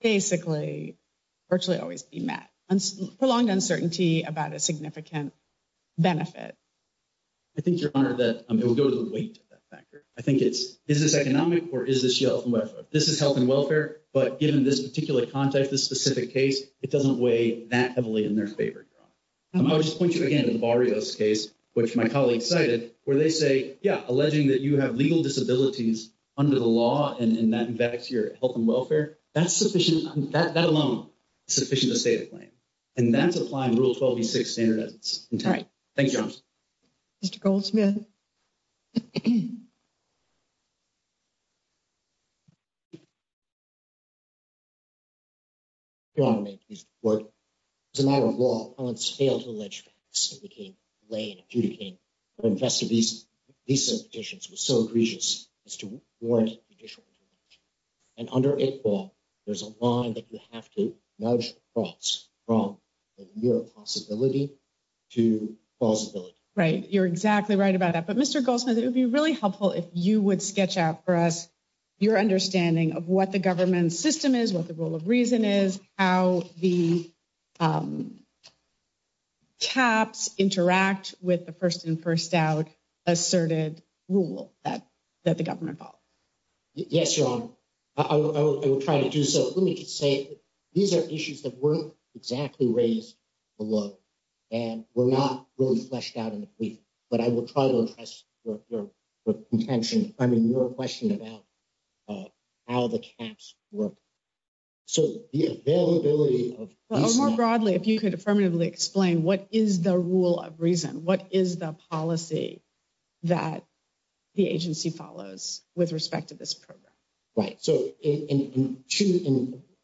basically. Virtually always be met and prolonged uncertainty about a significant. Benefit, I think your honor that it will go to the weight of that factor. I think it's is this economic or is this this is health and welfare, but given this particular context, this specific case, it doesn't weigh that heavily in their favor. I'll just point you again to the barrio's case, which my colleague cited where they say, yeah, alleging that you have legal disabilities under the law and that affects your health and welfare. That's sufficient that that alone. Sufficient to state a claim and that's applying rule 12 and 6 standard. It's all right. Thank you. Mr. Goldsmith. You want to make these work. It's a matter of law on scale to alleged became late. Investor visa petitions was so egregious as to warrant. And under it, there's a line that you have to know from your possibility. To possibility, right? You're exactly right about that. But Mr. Goldsmith, it would be really helpful if you would sketch out for us. Your understanding of what the government system is, what the rule of reason is, how the. Taps interact with the 1st and 1st out. Asserted rule that that the government. Yes, your honor, I will try to do so. Let me just say. These are issues that weren't exactly raised. Hello, and we're not really fleshed out in the week, but I will try to address your intention. I mean, your question about. How the caps work, so the availability of more broadly, if you could affirmatively explain, what is the rule of reason? What is the policy? That the agency follows with respect to this program. Right, so in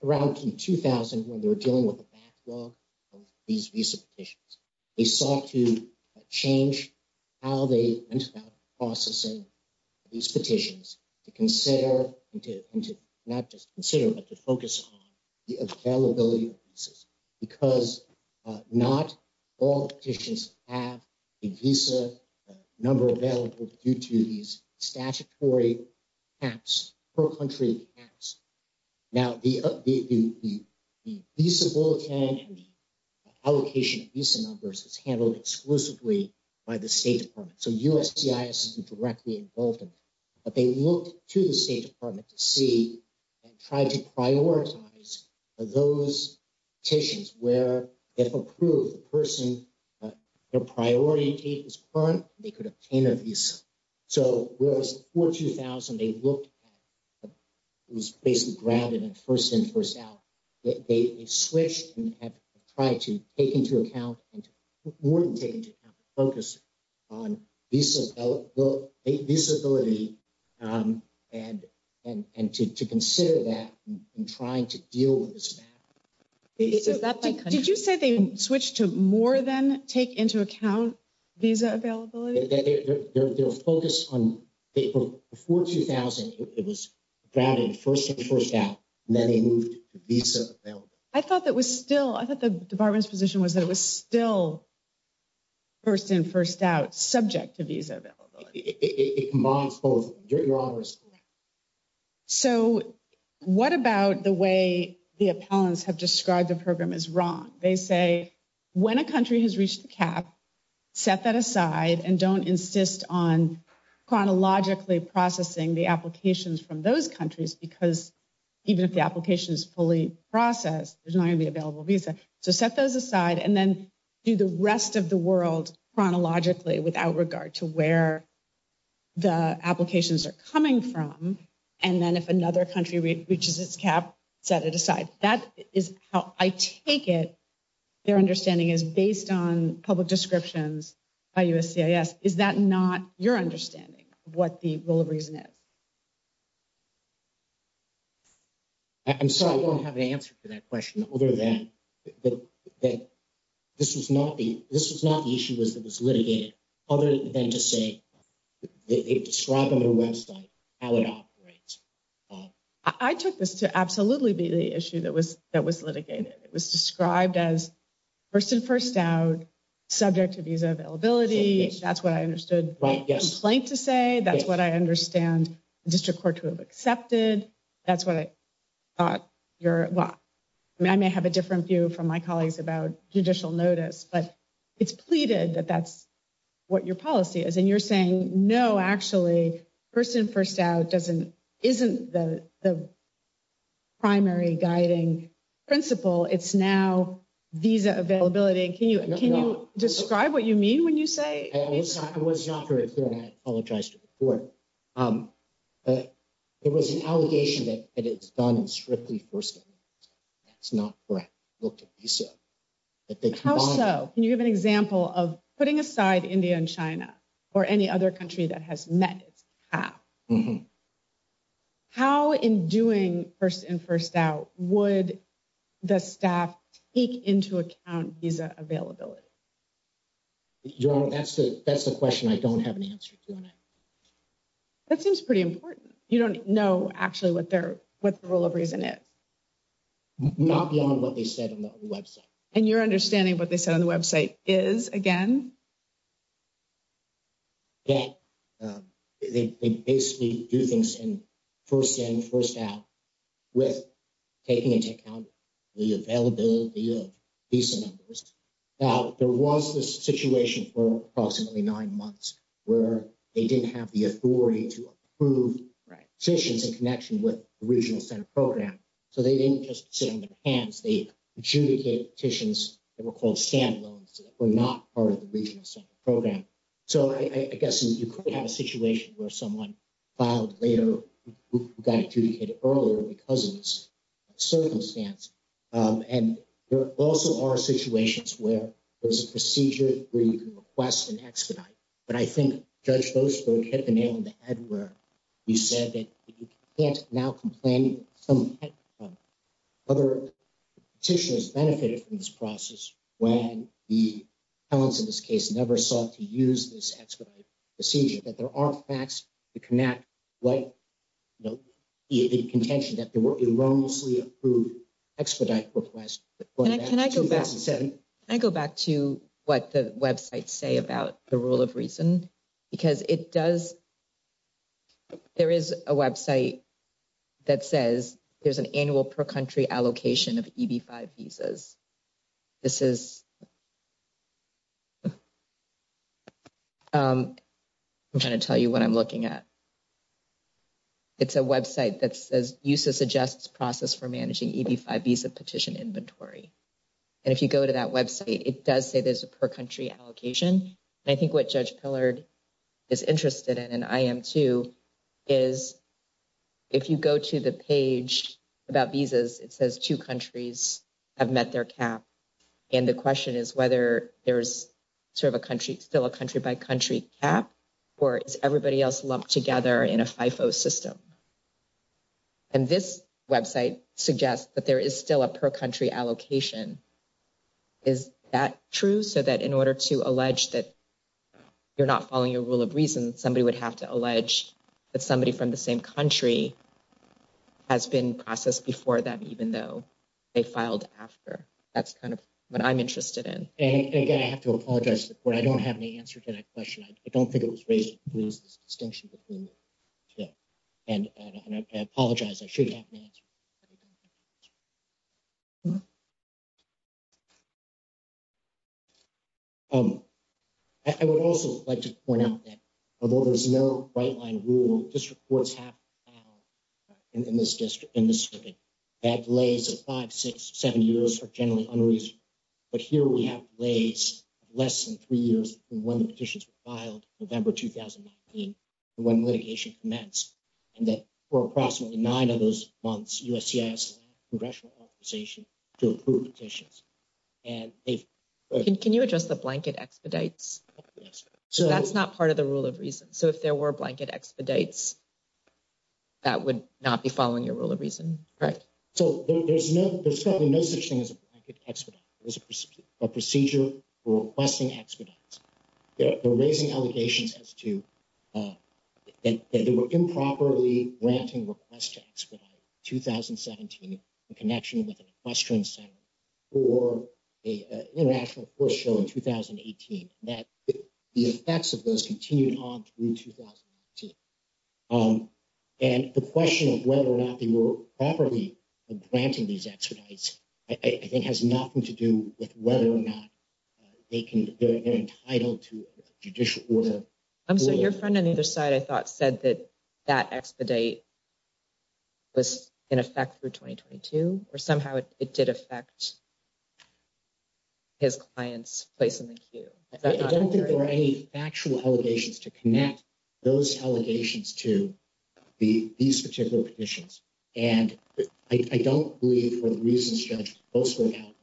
around 2000, when they were dealing with the backlog. These these petitions, they sought to change. How they processing these petitions to consider and to not just consider, but to focus on the availability of. Because not all petitions have. He's a number available due to these statutory. Apps for country apps now, the, the, the. The allocation of numbers is handled exclusively. By the state department, so USC is directly involved. But they look to the state department to see. And try to prioritize those. Petitions where if approved the person. The priority is current, they could obtain a visa. So, whereas for 2000, they looked at. It was basically grounded in first in first out. They switched and have tried to take into account and. We're taking focus on this ability. And and to consider that in trying to deal with this. Did you say they switched to more than take into account? Visa availability, they're focused on before 2000. It was. Grounded 1st, 1st out, and then they moved to visa. I thought that was still I thought the department's position was that it was still. 1st in 1st out subject to visa. It combines both your honors. So, what about the way the appellants have described the program is wrong? They say. When a country has reached the cap, set that aside and don't insist on. Chronologically processing the applications from those countries, because. Even if the application is fully process, there's not going to be available visa. So set those aside and then. Do the rest of the world chronologically without regard to where. The applications are coming from. And then if another country reaches its cap, set it aside. That is how I take it. Their understanding is based on public descriptions. I, is that not your understanding what the reason is. I'm sorry, I don't have an answer to that question over that. But this was not the, this was not the issue was that was litigated. Other than to say, it described on their website. I took this to absolutely be the issue that was that was litigated. It was described as. 1st, and 1st out subject to visa availability. That's what I understood. Right? Yes. Plain to say that's what I understand district court to have accepted. That's what I. Thought you're I may have a different view from my colleagues about judicial notice, but. It's pleaded that that's what your policy is and you're saying no, actually. 1st, and 1st out doesn't isn't the. Primary guiding principle, it's now. These availability and can you can you describe what you mean when you say it was not very clear. I apologize to report. Um, but there was an allegation that it's done strictly for. It's not correct. Look at. So, can you give an example of putting aside India and China. Or any other country that has met it's. How in doing 1st and 1st out would. The staff take into account visa availability. That's the that's the question. I don't have an answer. That seems pretty important. You don't know actually what they're what the rule of reason is. Not beyond what they said on the website and your understanding what they said on the website is again. Yeah, they basically do things in. 1st, and 1st out with taking into account. The availability of these numbers. Now, there was this situation for approximately 9 months. Where they didn't have the authority to prove. Right? Patients in connection with regional center program. So, they didn't just sit on their hands. They judicate petitions. They were called stand loans that were not part of the regional center program. So, I guess you could have a situation where someone. Filed later, got to get it earlier because it was. Circumstance and there also are situations where. There's a procedure where you can request an expedite. But I think judge, those who hit the nail on the head where. You said that you can't now complain some. Other tissues benefited from this process. When the talents in this case never sought to use this. Procedure that there are facts to connect. No, the contention that there were erroneously approved. Expedite request, can I go back? I go back to what the website say about the rule of reason. Because it does, there is a website. That says there's an annual per country allocation of visas. This is I'm trying to tell you what I'm looking at. It's a website that says uses suggests process for managing visa petition inventory. And if you go to that website, it does say there's a per country allocation. I think what judge pillared is interested in and I am too. Is if you go to the page about visas, it says 2 countries. I've met their cap and the question is whether there's. Serve a country still a country by country app. Or is everybody else lumped together in a FIFO system? And this website suggests that there is still a per country allocation. Is that true? So that in order to allege that you're not following a rule of reason, somebody would have to allege that somebody from the same country. Has been processed before that, even though they filed after. That's kind of what I'm interested in. And again, I have to apologize, but I don't have any answer to that question. I don't think it was raised. There's this distinction between, yeah. And I apologize. I should have an answer. I would also like to point out that although there's no right line rule. District courts have in this district, in this circuit. That lays a 5, 6, 7 years for generally unreason. But here we have less than three years when the petitions were filed November 2019. When litigation commenced, and then for approximately nine of those months, USCIS congressional authorization to approve petitions. And they've- Can you address the blanket expedites? Yes. So that's not part of the rule of reason. So if there were blanket expedites, that would not be following your rule of reason, correct? So there's no, there's probably no such thing as a blanket expedite. It was a procedure for requesting expedites. They're raising allegations as to that they were improperly granting requests to expedite in 2017 in connection with an equestrian center or an international court show in 2018. That the effects of those continued on through 2018. And the question of whether or not they were properly granting these expedites, I think has nothing to do with whether or not they can, they're entitled to a judicial order. So your friend on either side, I thought, said that that expedite was in effect through 2022, or somehow it did affect his client's place in the queue. I don't think there are any factual allegations to connect those allegations to these particular petitions. And I don't believe for the reasons Judge Boasberg outlined,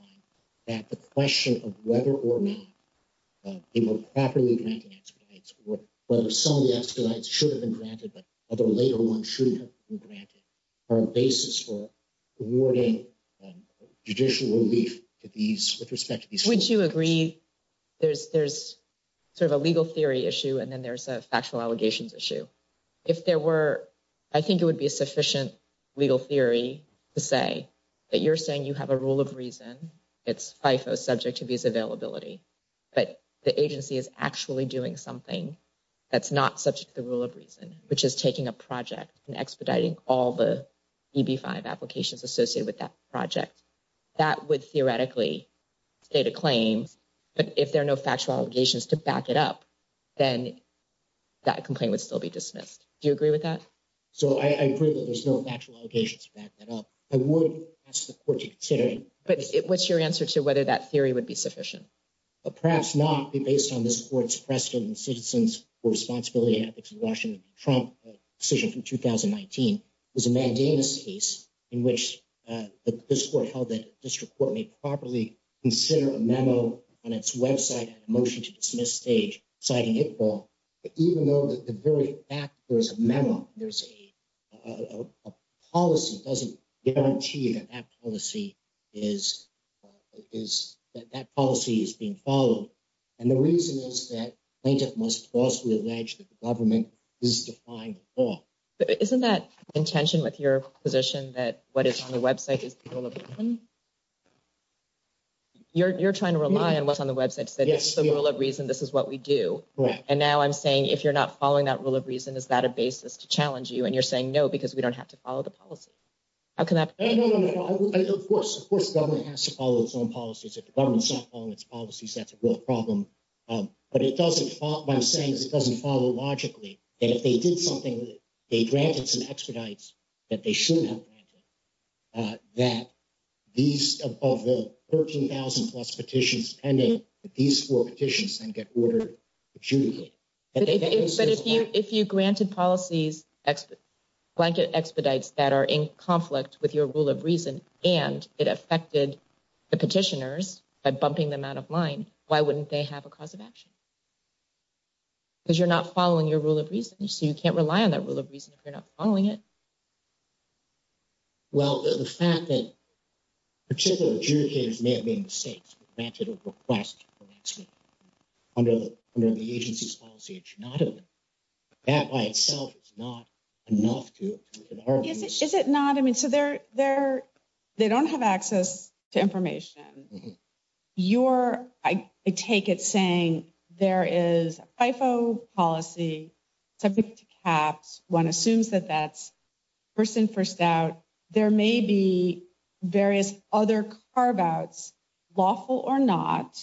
that the question of whether or not they were properly granting expedites, or whether some of the expedites should have been granted, but other later ones shouldn't have been granted, are a basis for awarding judicial relief to these, with respect to these- Would you agree there's sort of a legal theory issue, and then there's a factual allegations issue? If there were, I think it would be a sufficient legal theory to say that you're saying you have a rule of reason, it's FIFO subject to these availability, but the agency is actually doing something that's not subject to the rule of reason, which is taking a project and expediting all the EB-5 applications associated with that project. That would theoretically state a claim, but if there are no factual allegations to back it up, then that complaint would still be dismissed. Do you agree with that? So I agree that there's no factual allegations to back that up. I would ask the court to consider it. But what's your answer to whether that theory would be sufficient? Perhaps not, based on this court's precedent in Citizens for Responsibility and Ethics in Washington v. Trump, a decision from 2019. It was a mandamus case in which this court held that the district court may properly consider a memo on its website and a motion to dismiss stage, citing HIPAA, even though the very fact that there's a memo, there's a policy, doesn't guarantee that that policy is being followed. And the reason is that plaintiff must falsely allege that the government is defying the law. Isn't that in tension with your position that what is on the website is the rule of reason? You're trying to rely on what's on the website to say, it's the rule of reason, this is what we do. And now I'm saying, if you're not following that rule of reason, is that a basis to challenge you? And you're saying no, because we don't have to follow the policy. Of course, the government has to follow its own policies. If the government's not following its policies, that's a real problem. But what I'm saying is it doesn't follow logically that if they did something, they granted some expedites that they shouldn't have granted, that these above the 13,000 plus petitions pending, these four petitions then get ordered to adjudicate. If you granted policies, blanket expedites that are in conflict with your rule of reason, and it affected the petitioners by bumping them out of line, why wouldn't they have a cause of action? Because you're not following your rule of reason, so you can't rely on that rule of reason if you're not following it. Well, the fact that particular adjudicators may have made mistakes, granted a request for an expedite under the agency's policy, it should not have been. That by itself is not enough to- Is it not? They don't have access to information. I take it saying there is a FIFO policy subject to caps. One assumes that that's first in, first out. There may be various other carve-outs, lawful or not,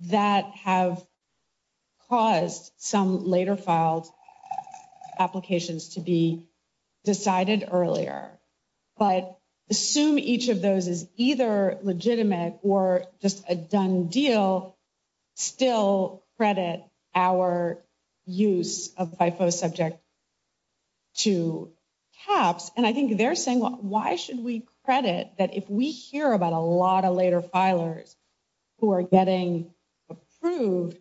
that have caused some later filed applications to be decided earlier. But assume each of those is either legitimate or just a done deal, still credit our use of FIFO subject to caps. And I think they're saying, why should we credit that if we hear about a lot of later filers, who are getting approved,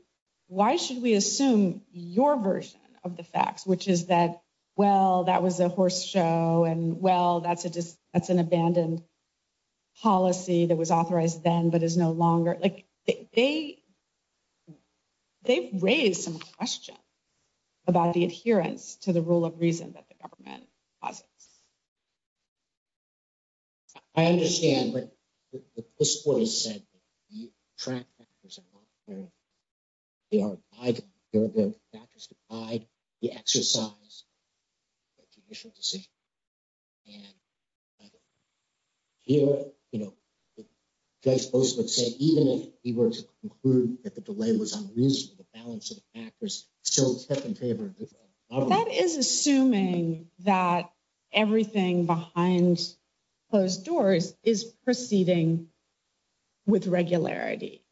why should we assume your version of the facts? Which is that, well, that was a horse show, and well, that's an abandoned policy that was authorized then, but is no longer. Like, they've raised some questions about the adherence to the rule of reason that the government posits. I understand, but this point is said that the track factors are not clear. They are either the factors applied, the exercise, or the initial decision. And here, you know, Judge Postman said even if he were to conclude that the delay was unreasonable, the balance of the factors still kept in favor. That is assuming that everything behind closed doors is proceeding with regularity.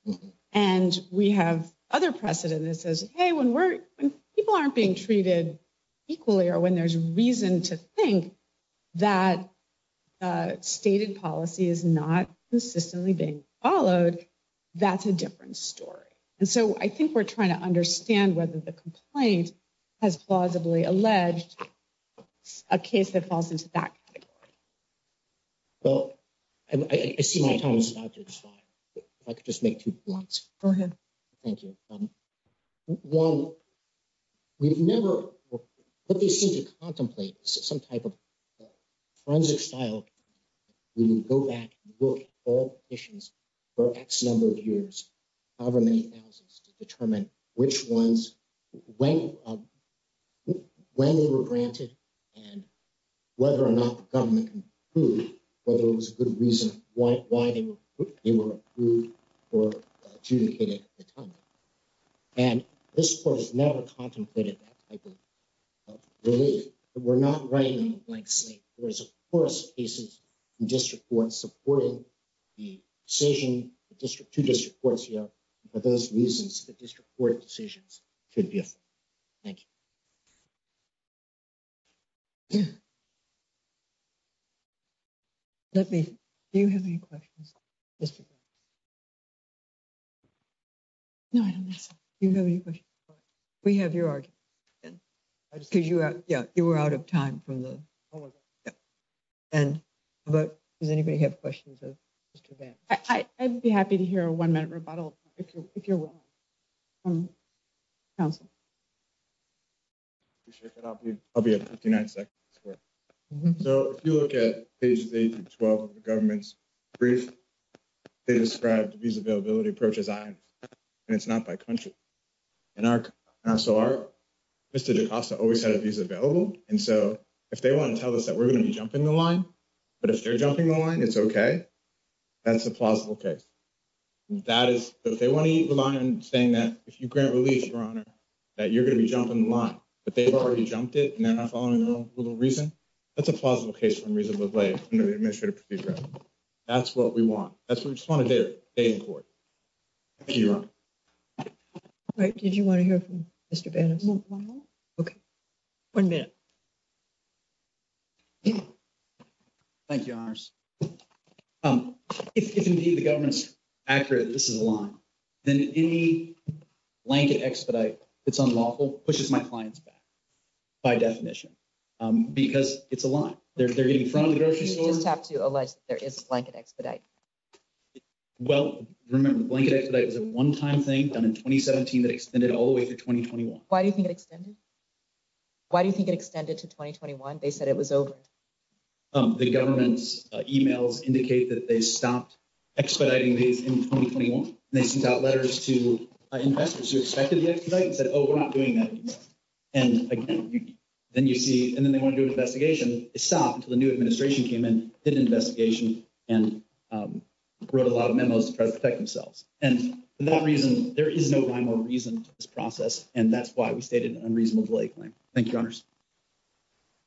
And we have other precedent that says, hey, when people aren't being treated equally, or when there's reason to think that stated policy is not consistently being followed, that's a different story. And so, I think we're trying to understand whether the complaint has plausibly alleged a case that falls into that category. Well, I see my time is about to expire. If I could just make two points. Go ahead. Thank you. One, we've never, but they seem to contemplate some type of forensic style. We would go back and look at all conditions for X number of years. However many thousands to determine which ones, when they were granted, and whether or not the government approved, whether it was a good reason why they were approved or adjudicated at the time. And this court has never contemplated that type of relief. We're not writing a blank slate. There is, of course, cases in district court supporting the decision, the district, two district courts, you know, for those reasons, the district court decisions could be a thing. Thank you. Let me, do you have any questions? No, I don't think so. Do you have any questions? We have your argument, because you were out of time from the. And does anybody have questions of Mr. Vance? I'd be happy to hear a 1 minute rebuttal. If you're, if you're. Council. I'll be at 59 seconds. So, if you look at pages, the 12 of the government's brief, they described these availability approaches. And it's not by country. And our, so our Mr. always had a visa available. And so if they want to tell us that we're going to be jumping the line. But if they're jumping the line, it's okay. That's a plausible case. That is, if they want to eat the line and saying that if you grant relief, your honor, that you're going to be jumping the line, but they've already jumped it. And then I'm following a little reason. That's a plausible case for unreasonable play under the administrative procedure. That's what we want. That's what we just want to do. Thank you. Did you want to hear from Mr. Ben? Okay. 1 minute. Thank you. If, indeed, the government's accurate, this is a line. Then any blanket expedite that's unlawful pushes my clients back by definition. Because it's a line. They're getting in front of the grocery store. You just have to allege that there is a blanket expedite. Well, remember, blanket expedite is a one-time thing done in 2017 that extended all the way through 2021. Why do you think it extended? Why do you think it extended to 2021? They said it was over. The government's emails indicate that they stopped expediting these in 2021. They sent out letters to investors who expected the expedite and said, oh, we're not doing that. And again, then you see, and then they want to do an investigation. It stopped until the new administration came in, did an investigation, and wrote a lot of memos to try to protect themselves. And for that reason, there is no rhyme or reason to this process. Thank you, honors.